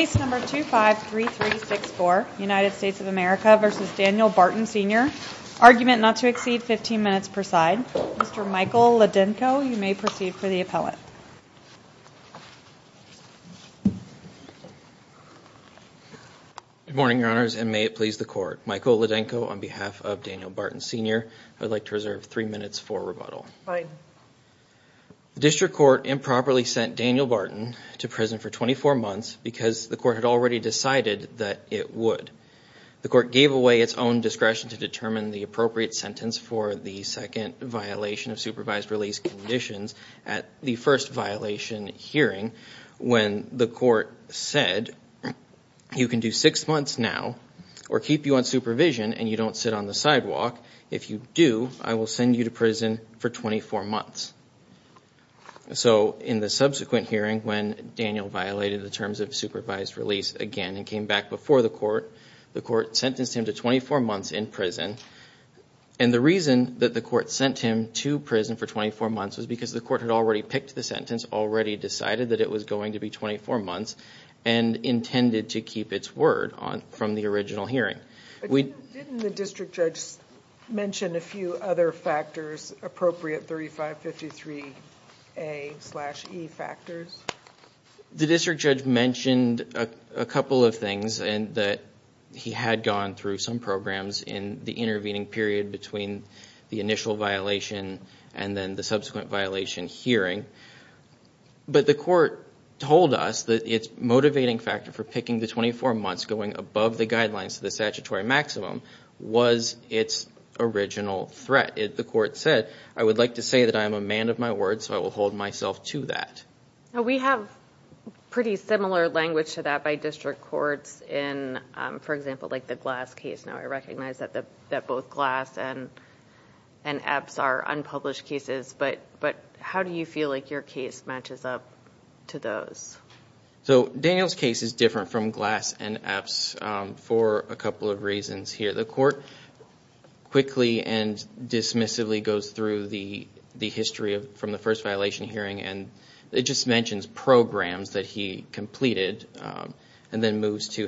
Case number 253364, United States of America v. Daniel Barton Sr., argument not to exceed 15 minutes per side. Mr. Michael Ladenko, you may proceed for the appellate. Good morning, Your Honors, and may it please the Court. Michael Ladenko on behalf of Daniel Barton Sr. I would like to reserve three minutes for rebuttal. Fine. The District Court improperly sent Daniel Barton to prison for 24 months because the Court had already decided that it would. The Court gave away its own discretion to determine the appropriate sentence for the second violation of supervised release conditions at the first violation hearing when the Court said, you can do six months now or keep you on supervision and you don't sit on the sidewalk. If you do, I will send you to prison for 24 months. So in the subsequent hearing when Daniel violated the terms of supervised release again and came back before the Court, the Court sentenced him to 24 months in prison. And the reason that the Court sent him to prison for 24 months was because the Court had already picked the sentence, already decided that it was going to be 24 months, and intended to keep its word from the original hearing. Didn't the District Judge mention a few other factors, appropriate 3553A-E factors? The District Judge mentioned a couple of things that he had gone through some programs in the intervening period between the initial violation and then the subsequent violation hearing. But the Court told us that its motivating factor for picking the 24 months going above the guidelines of the statutory maximum was its original threat. The Court said, I would like to say that I am a man of my word, so I will hold myself to that. We have pretty similar language to that by District Courts in, for example, like the Glass and Epps are unpublished cases, but how do you feel like your case matches up to those? So, Daniel's case is different from Glass and Epps for a couple of reasons here. The Court quickly and dismissively goes through the history from the first violation hearing and it just mentions programs that he completed and then moves to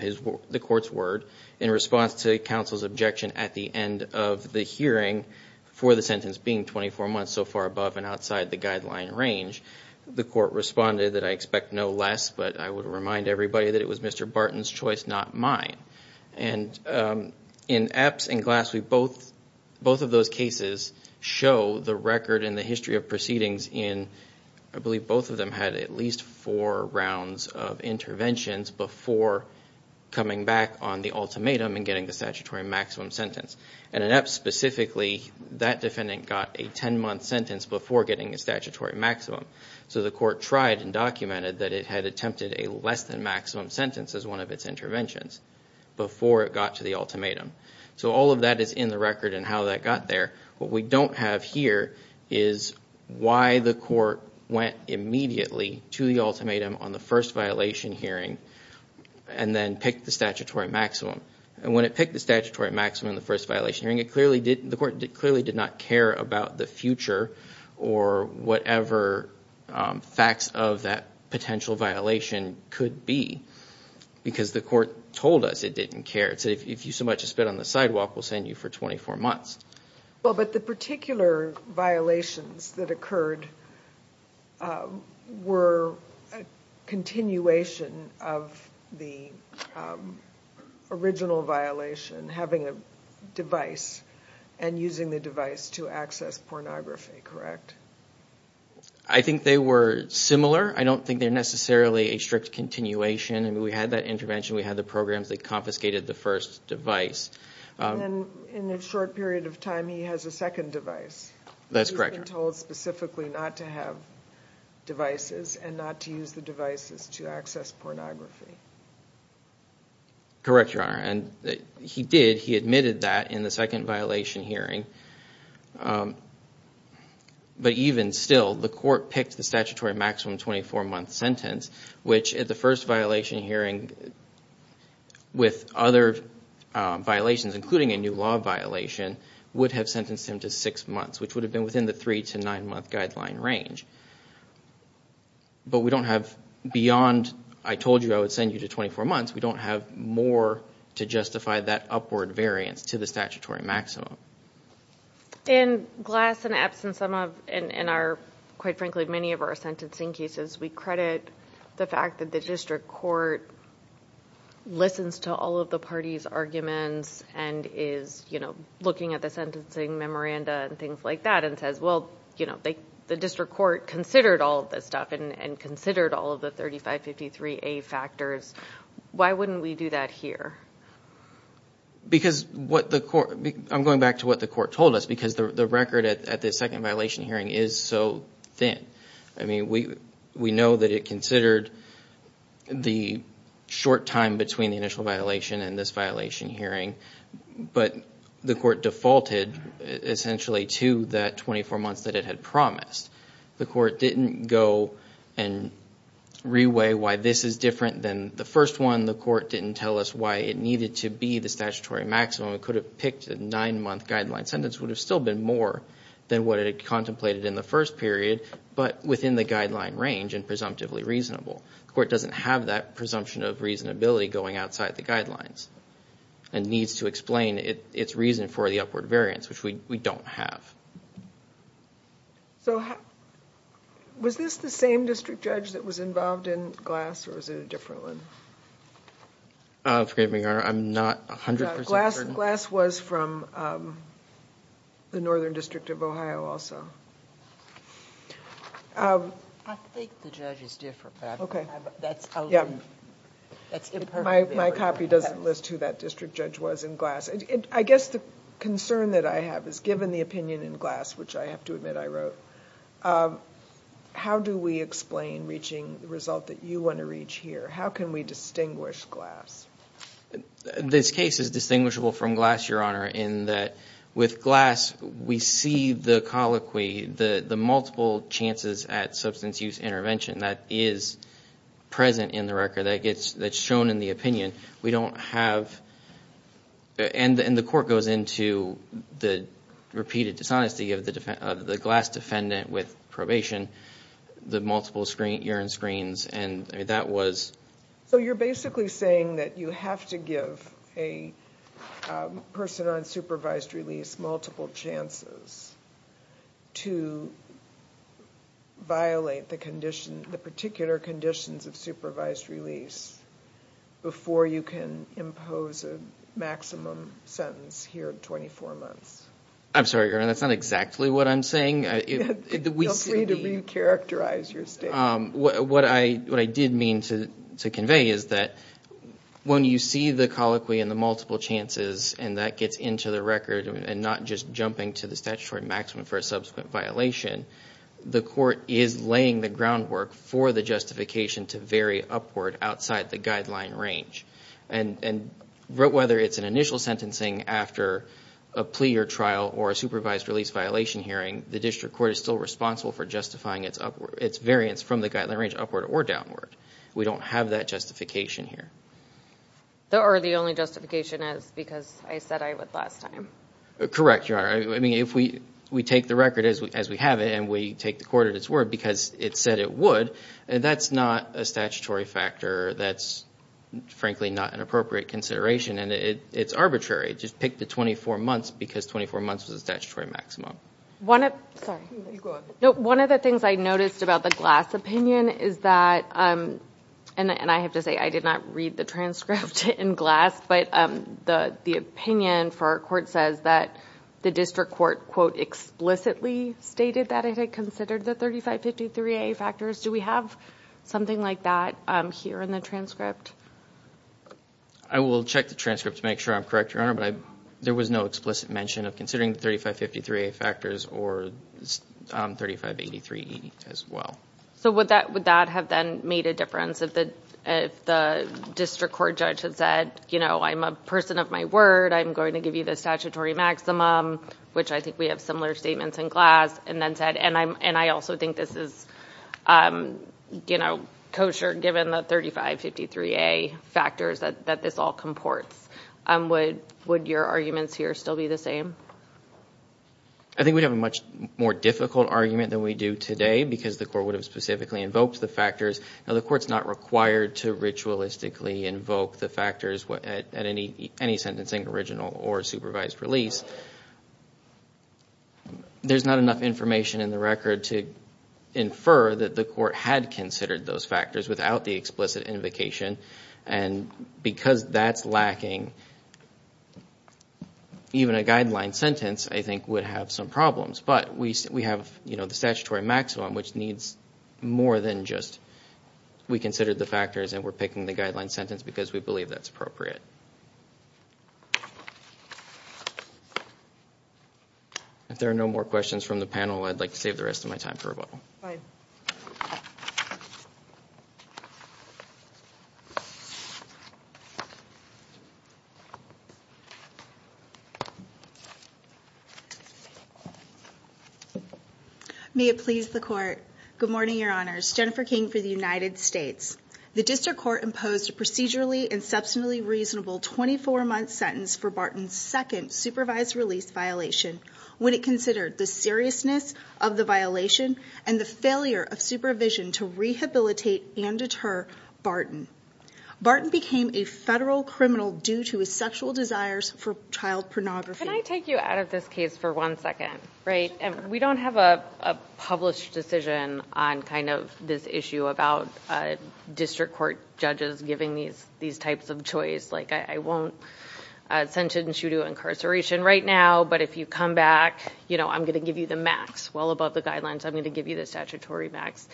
the Court's word in response to counsel's objection at the end of the hearing for the sentence being 24 months so far above and outside the guideline range. The Court responded that I expect no less, but I would remind everybody that it was Mr. Barton's choice, not mine. In Epps and Glass, both of those cases show the record and the history of proceedings in, I believe both of them had at least four rounds of interventions before coming back on the ultimatum and getting the statutory maximum sentence. In Epps specifically, that defendant got a 10-month sentence before getting a statutory maximum, so the Court tried and documented that it had attempted a less-than-maximum sentence as one of its interventions before it got to the ultimatum. So all of that is in the record and how that got there. What we don't have here is why the Court went immediately to the ultimatum on the first violation hearing and then picked the statutory maximum. And when it picked the statutory maximum on the first violation hearing, the Court clearly did not care about the future or whatever facts of that potential violation could be because the Court told us it didn't care. It said, if you so much as spit on the sidewalk, we'll send you for 24 months. Well, but the particular violations that occurred were... Continuation of the original violation, having a device and using the device to access pornography, correct? I think they were similar. I don't think they're necessarily a strict continuation. We had that intervention. We had the programs that confiscated the first device. In a short period of time, he has a second device. That's correct. He was then told specifically not to have devices and not to use the devices to access pornography. Correct, Your Honor. He did. He admitted that in the second violation hearing. But even still, the Court picked the statutory maximum 24-month sentence, which at the first violation hearing with other violations, including a new law violation, would have sentenced him to six months, which would have been within the three- to nine-month guideline range. But we don't have beyond, I told you I would send you to 24 months. We don't have more to justify that upward variance to the statutory maximum. In Glass and Epps and quite frankly many of our sentencing cases, we credit the fact that the District Court listens to all of the parties' arguments and is looking at the sentencing memoranda and things like that and says, well, the District Court considered all of this stuff and considered all of the 3553A factors. Why wouldn't we do that here? Because what the Court, I'm going back to what the Court told us, because the record at the second violation hearing is so thin. We know that it considered the short time between the initial violation and this violation hearing, but the Court defaulted essentially to that 24 months that it had promised. The Court didn't go and reweigh why this is different than the first one. The Court didn't tell us why it needed to be the statutory maximum. It could have picked a nine-month guideline sentence. It would have still been more than what it had contemplated in the first period, but within the guideline range and presumptively reasonable. The Court doesn't have that presumption of reasonability going outside the guidelines and needs to explain its reason for the upward variance, which we don't have. Was this the same district judge that was involved in Glass or was it a different one? Forgive me, Your Honor, I'm not 100 percent certain. Glass was from the Northern District of Ohio also. I think the judge is different, but that's out there. My copy doesn't list who that district judge was in Glass. I guess the concern that I have is given the opinion in Glass, which I have to admit I wrote, how do we explain reaching the result that you want to reach here? How can we distinguish Glass? This case is distinguishable from Glass, Your Honor, in that with Glass we see the colloquy, the multiple chances at substance use intervention that is present in the record, that gets shown in the opinion. We don't have, and the Court goes into the repeated dishonesty of the Glass defendant with probation, the multiple urine screens, and that was... So you're basically saying that you have to give a person on supervised release multiple chances to violate the particular conditions of supervised release before you can impose a maximum sentence here of 24 months. I'm sorry, Your Honor, that's not exactly what I'm saying. Feel free to re-characterize your statement. What I did mean to convey is that when you see the colloquy and the multiple chances and that gets into the record and not just jumping to the statutory maximum for a subsequent violation, the Court is laying the groundwork for the justification to vary upward outside the guideline range. Whether it's an initial sentencing after a plea or trial or a supervised release violation hearing, the District Court is still responsible for justifying its variance from the guideline range upward or downward. We don't have that justification here. Or the only justification is because I said I would last time. Correct, Your Honor. I mean, if we take the record as we have it and we take the Court at its word because it said it would, that's not a statutory factor. That's frankly not an appropriate consideration and it's arbitrary. Just pick the 24 months because 24 months was the statutory maximum. One of the things I noticed about the Glass opinion is that, and I have to say I did not read the transcript in Glass, but the opinion for our Court says that the District Court quote explicitly stated that it had considered the 3553A factors. Do we have something like that here in the transcript? I will check the transcript to make sure I'm correct, Your Honor, but there was no explicit mention of considering the 3553A factors or 3583E as well. So would that have then made a difference if the District Court judge had said, you know, I'm a person of my word. I'm going to give you the statutory maximum, which I think we have similar statements in Glass, and then said, and I also think this is, you know, kosher given the 3553A factors that this all comports. Would your arguments here still be the same? I think we'd have a much more difficult argument than we do today because the Court would have specifically invoked the factors. Now the Court's not required to ritualistically invoke the factors at any sentencing, original or supervised release. There's not enough information in the record to infer that the Court had considered those factors without the explicit statement. So that's lacking. Even a guideline sentence, I think, would have some problems. But we have, you know, the statutory maximum, which needs more than just we considered the factors and we're picking the guideline sentence because we believe that's appropriate. If there are no more questions from the panel, I'd like to save the rest of my time for rebuttal. May it please the Court. Good morning, Your Honors. Jennifer King for the United States. The District Court imposed a procedurally and substantially reasonable 24-month sentence for Barton's second supervised release violation when it considered the seriousness of the violation and the failure of supervision to rehabilitate and deter Barton. Barton became a federal criminal due to his sexual desires for child pornography. Can I take you out of this case for one second, right? We don't have a published decision on kind of this issue about District Court judges giving these types of choice, like I won't sentence you to incarceration right now, but if you come back, you know, I'm going to give you the max, well above the guidelines. I'm going to give you the statutory max.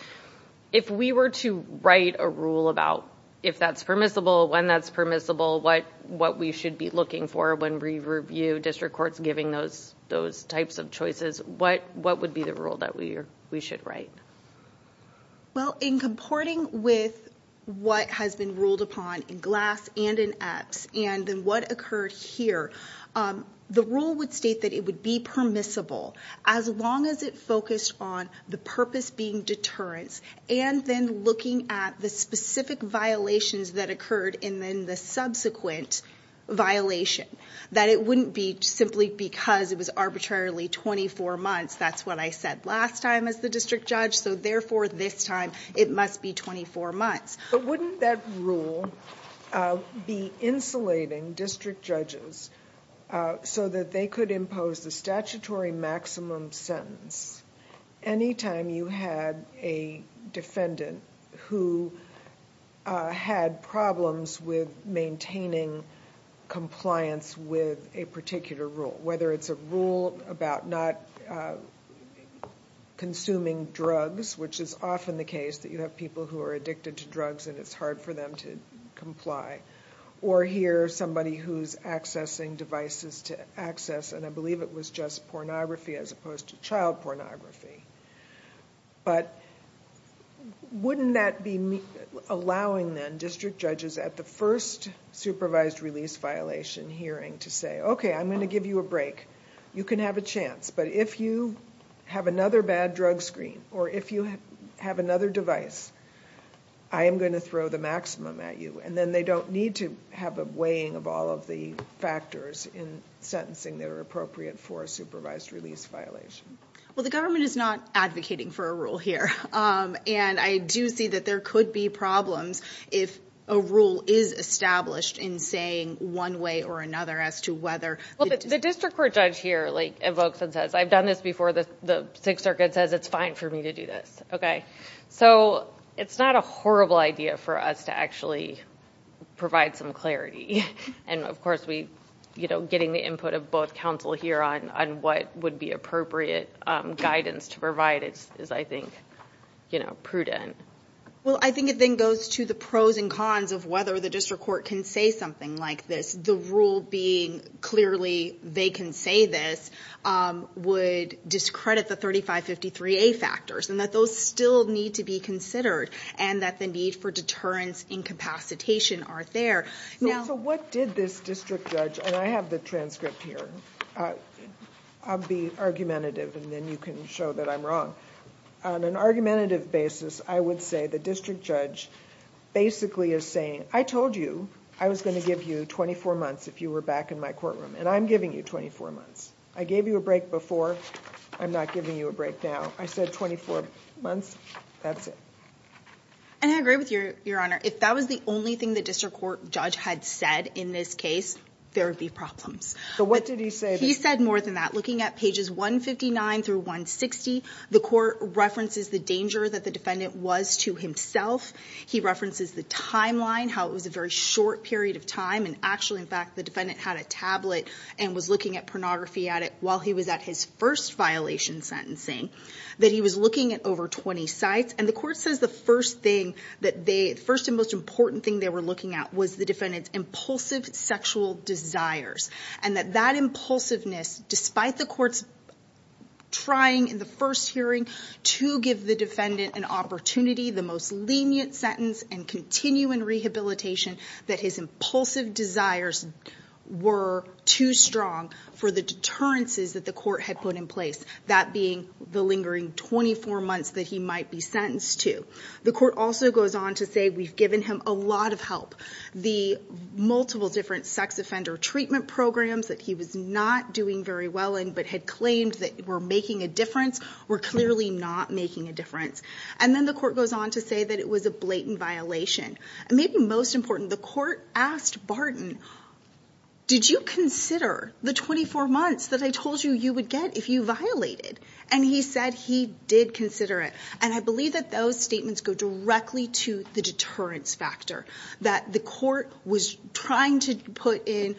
If we were to write a rule about if that's permissible, when that's permissible, what we should be looking for when we review District Courts giving those types of choices, what would be the rule that we should write? Well, in comporting with what has been ruled upon in Glass and in Epps and in what occurred here, the rule would state that it would be permissible as long as it focused on the purpose being deterrence and then looking at the specific violations that occurred and then the subsequent violation, that it wouldn't be simply because it was arbitrarily 24 months. That's what I said last time as the district judge. So therefore, this time it must be 24 months. But wouldn't that rule be insulating district judges so that they could impose the statutory maximum sentence anytime you had a defendant who had problems with maintaining compliance with a particular rule, whether it's a rule about not consuming drugs, which is often the case that you have people who are addicted to drugs and it's hard for them to comply, or here, somebody who's accessing devices to access, and I believe it was just pornography as opposed to child pornography. But wouldn't that be allowing then district judges at the first supervised release violation hearing to say, okay, I'm going to give you a break. You can have a chance. But if you have another bad drug screen or if you have another device, I am going to throw the maximum at you. And then they don't need to have a weighing of all of the factors in sentencing that are appropriate for a supervised release violation. Well, the government is not advocating for a rule here. And I do see that there could be problems if a rule is established in saying one way or another as to whether... The district court judge here invokes and says, I've done this before. The Sixth Circuit says it's fine for me to do this. Okay. So it's not a horrible idea for us to actually provide some clarity. And of course, getting the input of both counsel here on what would be appropriate guidance to provide is, I think, prudent. Well, I think it then goes to the pros and cons of whether the district court can say something like this. The rule being clearly they can say this would discredit the 3553A factors and that those still need to be considered and that the need for deterrence incapacitation are there. So what did this district judge... And I have the transcript here. I'll be argumentative and then you can show that I'm wrong. On an argumentative basis, I would say the district judge basically is saying, I told you I was going to give you 24 months if you were back in my courtroom. And I'm giving you 24 months. I gave you a break before. I'm not giving you a break now. I said 24 months. That's it. And I agree with you, Your Honor. If that was the only thing the district court judge had said in this case, there would be problems. So what did he say? He said more than that. Looking at pages 159 through 160, the court references the danger that the defendant was to himself. He references the timeline, how it was a very short period of time. And actually, in fact, the defendant had a tablet and was looking at pornography at it while he was at his first violation sentencing, that he was looking at over 20 sites. And the court says the first thing that they... The first and most important thing they were looking at was the defendant's impulsive sexual desires and that that impulsiveness, despite the court's trying in the first hearing to give the defendant an opportunity, the most lenient sentence and continuing rehabilitation, that his impulsive desires were too strong for the deterrences that the court had put in place, that being the lingering 24 months that he might be sentenced to. The court also goes on to say we've given him a lot of help. The multiple different sex offender treatment programs that he was not doing very well in but had claimed that were making a difference were clearly not making a difference. And then the court goes on to say that it was a blatant violation. Maybe most important, the court asked Barton, did you consider the 24 months that I told you you would get if you violated? And he said he did consider it. And I believe that those statements go directly to the deterrence factor, that the court was trying to put in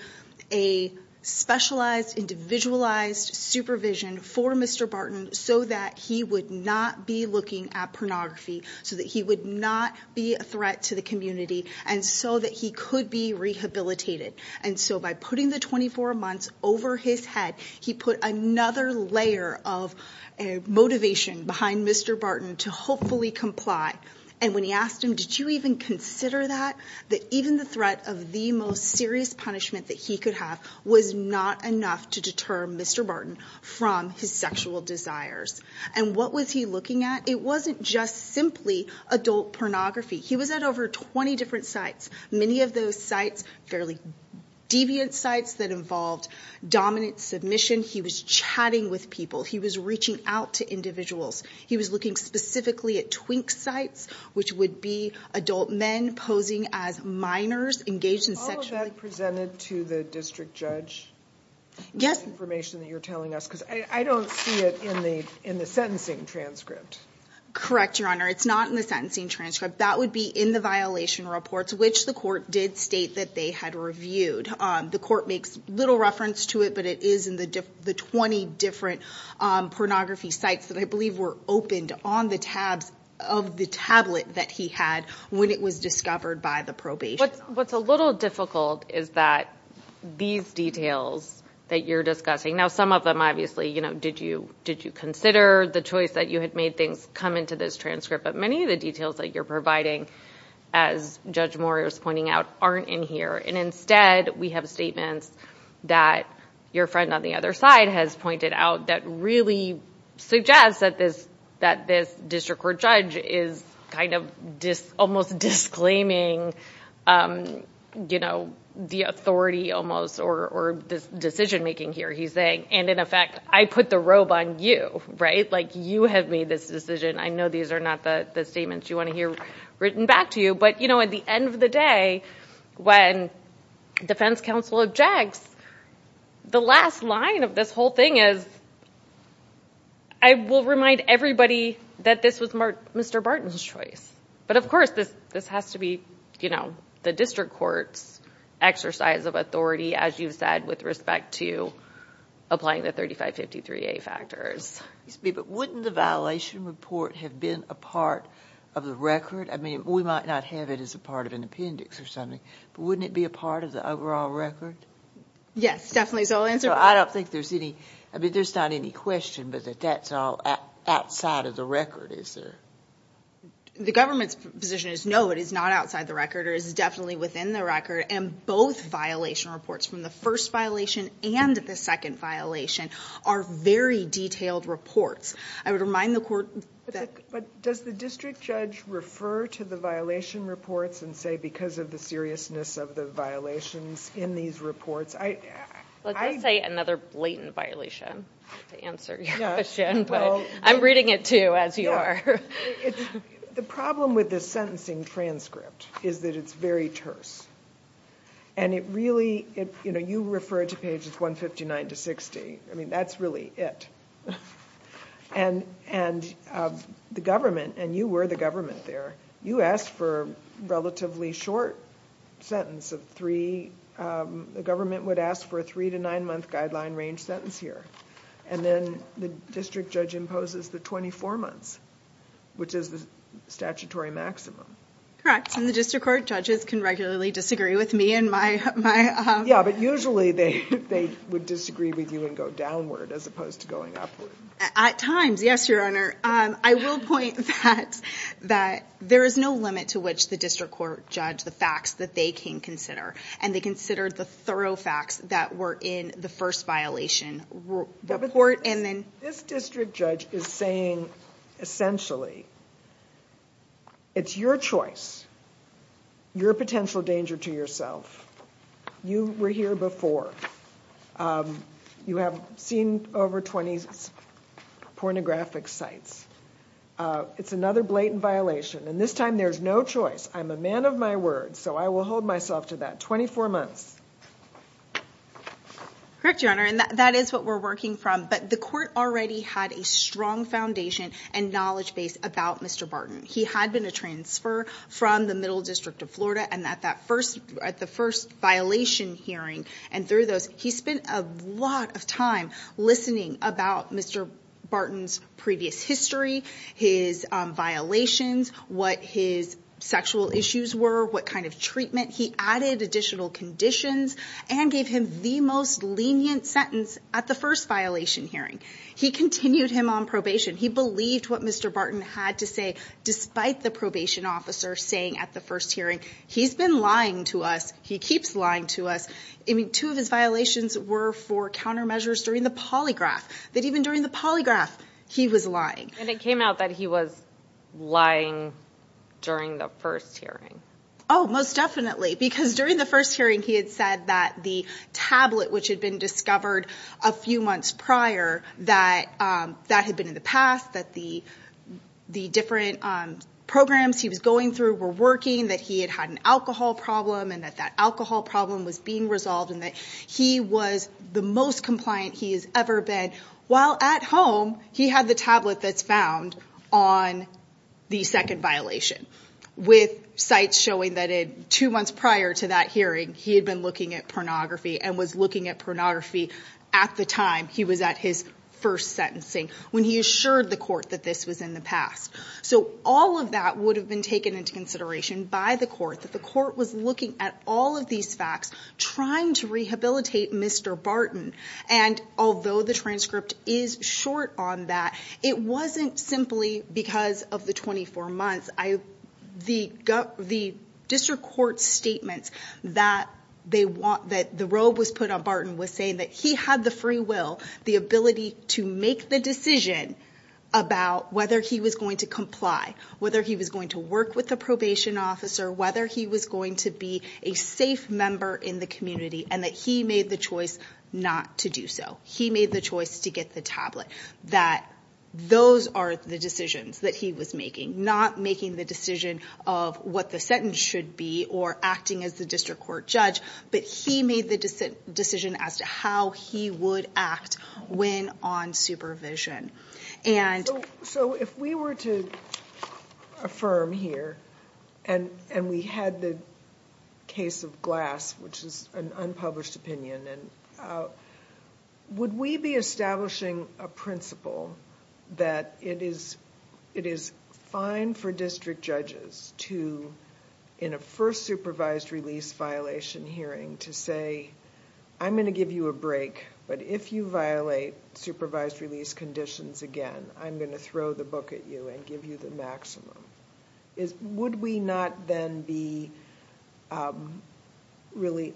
a specialized, individualized supervision for Mr. Barton so that he would not be looking at pornography, so that he would not be a threat to the community, and so that he could be rehabilitated. And so by putting the 24 months over his head, he put another layer of motivation behind Mr. Barton to hopefully comply. And when he asked him, did you even consider that, that even the threat of the most serious punishment that he could have was not enough to deter Mr. Barton from his sexual desires. And what was he looking at? It wasn't just simply adult pornography. He was at over 20 different sites, many of those sites fairly deviant sites that involved dominant submission. He was chatting with people. He was reaching out to individuals. He was looking specifically at twink sites, which would be adult men posing as minors engaged in sexual... All of that presented to the district judge? Yes. This information that you're telling us, because I don't see it in the sentencing transcript. Correct, Your Honor. It's not in the sentencing transcript. That would be in the violation reports, which the court did state that they had reviewed. The court makes little reference to it, but it is in the 20 different pornography sites that I believe were opened on the tabs of the tablet that he had when it was discovered by the probation officer. What's a little difficult is that these details that you're discussing, now some of them obviously, did you consider the choice that you had made things come into this transcript, but many of the details that you're providing, as Judge Moriarty was pointing out, aren't in here. And instead, we have statements that your friend on the other side has pointed out that really suggest that this district court judge is almost disclaiming the authority almost, or this decision making here. He's saying, and in effect, I put the robe on you. You have made this decision. I know these are not the statements you want to hear written back to you, but at the end of the day, when defense counsel objects, the last line of this whole thing is, I will remind everybody that this was Mr. Barton's choice. But of course, this has to be the district court's exercise of authority, as you said, with respect to applying the 3553A factors. But wouldn't the violation report have been a part of the record? I mean, we might not have it as a part of an appendix or something, but wouldn't it be a part of the overall record? Yes, definitely. So I'll answer that. I mean, there's not any question, but that that's all outside of the record, is there? The government's position is, no, it is not outside the record, or it is definitely within the record. And both violation reports, from the first violation and the second violation, are very detailed reports. I would remind the court that... Does the district judge refer to the violation reports and say, because of the seriousness of the violations in these reports? Let's just say another blatant violation, to answer your question. But I'm reading it too, as you are. The problem with this sentencing transcript is that it's very terse. And it really, you refer to pages 159 to 60. I mean, that's really it. And the government, and you were the government there, you asked for a relatively short sentence of three. The government would ask for a three to nine month guideline range sentence here. And then the district judge imposes the 24 months, which is the statutory maximum. Correct. In the district court, judges can regularly disagree with me and my... Yeah, but usually they would disagree with you and go downward, as opposed to going upward. At times, yes, your honor. I will point that there is no limit to which the district court judge the facts that they can consider. And they consider the thorough facts that were in the first violation report and then... This district judge is saying, essentially, it's your choice. You're a potential danger to yourself. You were here before. You have seen over 20 pornographic sites. It's another blatant violation. And this time, there's no choice. I'm a man of my word. So I will hold myself to that 24 months. Correct, your honor. And that is what we're working from. But the court already had a strong foundation and knowledge base about Mr. Barton. He had been a transfer from the Middle District of Florida. And at the first violation hearing and through those, he spent a lot of time listening about Mr. Barton's previous history, his violations, what his sexual issues were, what kind of treatment. He added additional conditions and gave him the most lenient sentence at the first violation hearing. He continued him on probation. He believed what Mr. Barton had to say, despite the probation officer saying at the first hearing, he's been lying to us. He keeps lying to us. I mean, two of his violations were for countermeasures during the polygraph. That even during the polygraph, he was lying. And it came out that he was lying during the first hearing. Oh, most definitely. Because during the first hearing, he had said that the tablet, which had been discovered a few months prior, that had been in the past, that the different programs he was going through were working, that he had had an alcohol problem, and that that alcohol problem was being resolved, and that he was the most compliant he has ever been. While at home, he had the tablet that's found on the second violation, with sites showing that two months prior to that hearing, he had been looking at pornography and was looking at pornography at the time he was at his first sentencing, when he assured the court that this was in the past. So all of that would have been taken into consideration by the court, that the court was looking at all of these facts, trying to rehabilitate Mr. Barton. And although the transcript is short on that, it wasn't simply because of the 24 months. The district court statements that the robe was put on Barton was saying that he had the free will, the ability to make the decision about whether he was going to comply, whether he was going to work with the probation officer, whether he was going to be a safe member in the community, and that he made the choice not to do so. He made the choice to get the tablet, that those are the decisions that he was making, not making the decision of what the sentence should be or acting as the district court judge, but he made the decision as to how he would act when on supervision. So if we were to affirm here, and we had the case of Glass, which is an unpublished opinion, and would we be establishing a principle that it is fine for district judges to, in a first supervised release violation hearing, to say, I'm going to give you a break, but if you violate supervised release conditions again, I'm going to throw the book at you and give you the maximum. Would we not then be really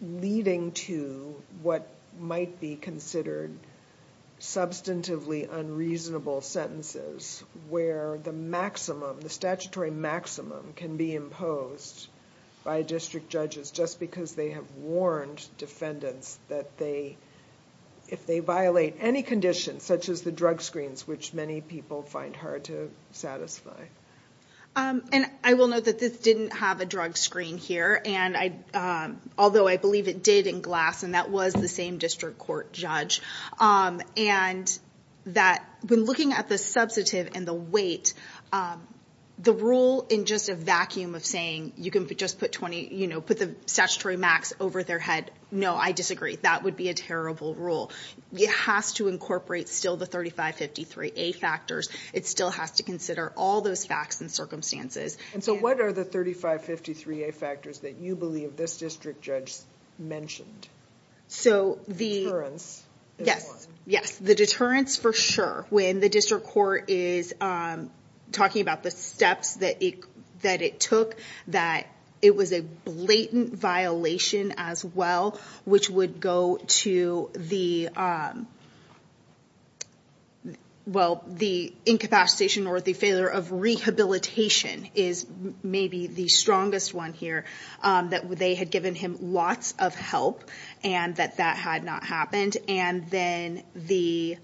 leading to what might be considered substantively unreasonable sentences, where the statutory maximum can be imposed by district judges just because they have warned defendants that if they violate any condition, such as the And I will note that this didn't have a drug screen here, although I believe it did in Glass, and that was the same district court judge, and that when looking at the substantive and the weight, the rule in just a vacuum of saying you can just put the statutory max over their head, no, I disagree. That would be a terrible rule. It has to incorporate still the 3553A factors. It still has to consider all those facts and circumstances. And so what are the 3553A factors that you believe this district judge mentioned? So the deterrence, for sure. When the district court is talking about the steps that it took, that it was a blatant violation as well, which would go to the, well, the incapacitation or the failure of rehabilitation is maybe the strongest one here, that they had given him lots of help and that that had not happened. And then the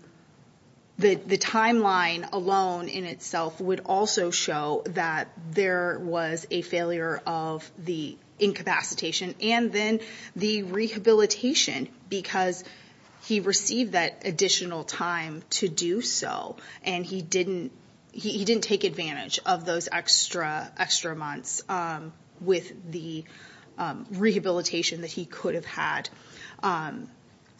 timeline alone in itself would also show that there was a failure of the incapacitation and then the rehabilitation because he received that additional time to do so, and he didn't take advantage of those extra months with the rehabilitation that he could have had.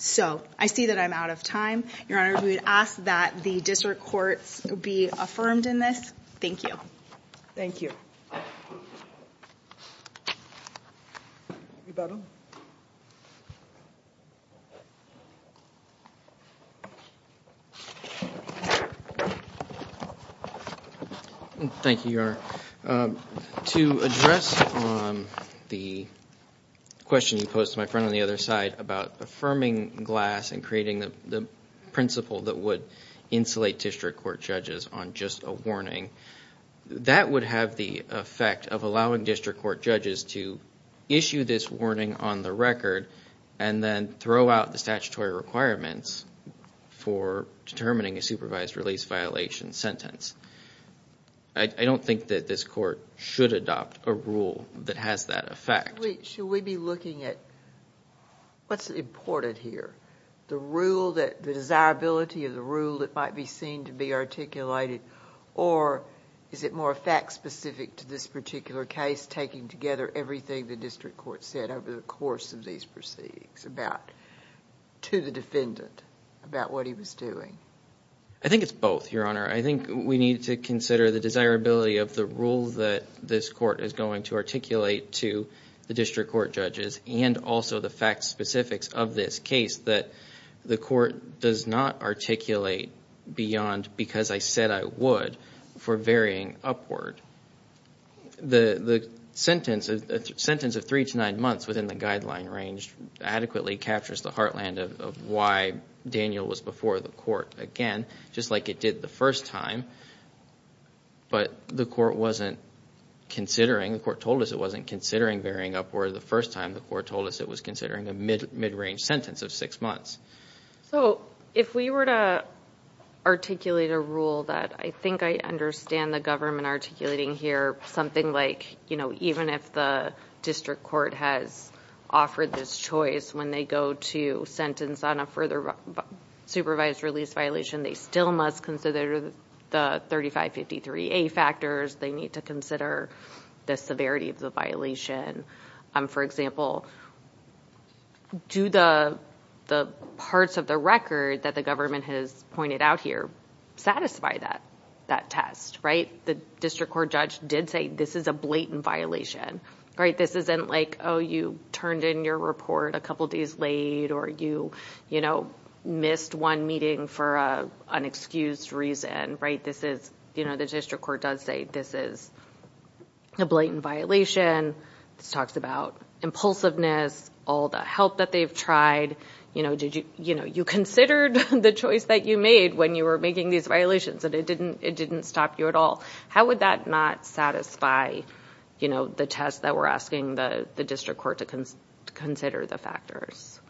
So I see that I'm out of time. Your Honor, we would ask that the district courts be affirmed in this. Thank you. Thank you. Thank you, Your Honor. To address the question you posed to my friend on the other side about affirming glass and creating the principle that would insulate district court judges on just a warning, that would have the effect of allowing district court judges to issue this warning on the record and then throw out the statutory requirements for determining a supervised release violation sentence. I don't think that this court should adopt a rule that has that effect. Should we be looking at what's important here? The rule that... the desirability of the rule that might be seen to be articulated, or is it more fact-specific to this particular case taking together everything the district court said over the course of these proceedings to the defendant about what he was doing? I think it's both, Your Honor. I think we need to consider the desirability of the rule that this court is going to articulate to the district court judges and also the fact-specifics of this case that the court does not articulate beyond, because I said I would, for varying upward. The sentence of three to nine months within the guideline range adequately captures the heartland of why Daniel was before the court again, just like it did the first time, but the court wasn't considering, the court told us it wasn't considering varying upward the first time. The court told us it was considering a mid-range sentence of six months. If we were to articulate a rule that I think I understand the government articulating here, something like even if the district court has offered this choice when they go to sentence on a further supervised release violation, they still must consider the 3553A factors. They need to consider the severity of the violation. For example, do the parts of the record that the government has pointed out here satisfy that test? The district court judge did say this is a blatant violation. This isn't like, oh, you turned in your report a couple days late or you missed one meeting for an excused reason. The district court does say this is a blatant violation. This talks about impulsiveness, all the help that they've tried. You considered the choice that you made when you were making these violations and it didn't stop you at all. How would that not satisfy the test that we're asking the district court to consider the factors?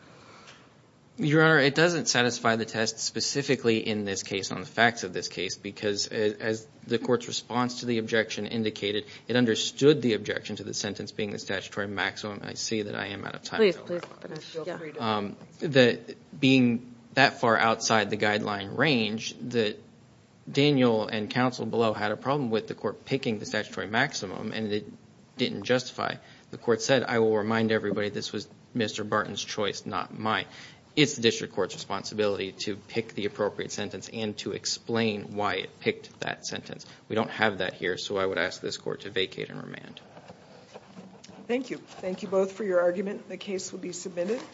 Your Honor, it doesn't satisfy the test specifically in this case on the facts of this case because as the court's response to the objection indicated, it understood the objection to the sentence being the statutory maximum. I see that I am out of time. Being that far outside the guideline range that Daniel and counsel below had a problem with the court picking the statutory maximum and it didn't justify, the court said I will remind everybody this was Mr. Barton's choice, not mine. It's the district court's responsibility to pick the appropriate sentence and to explain why it picked that sentence. We don't have that here, so I would ask this court to vacate and remand. Thank you. Thank you both for your argument. The case will be submitted.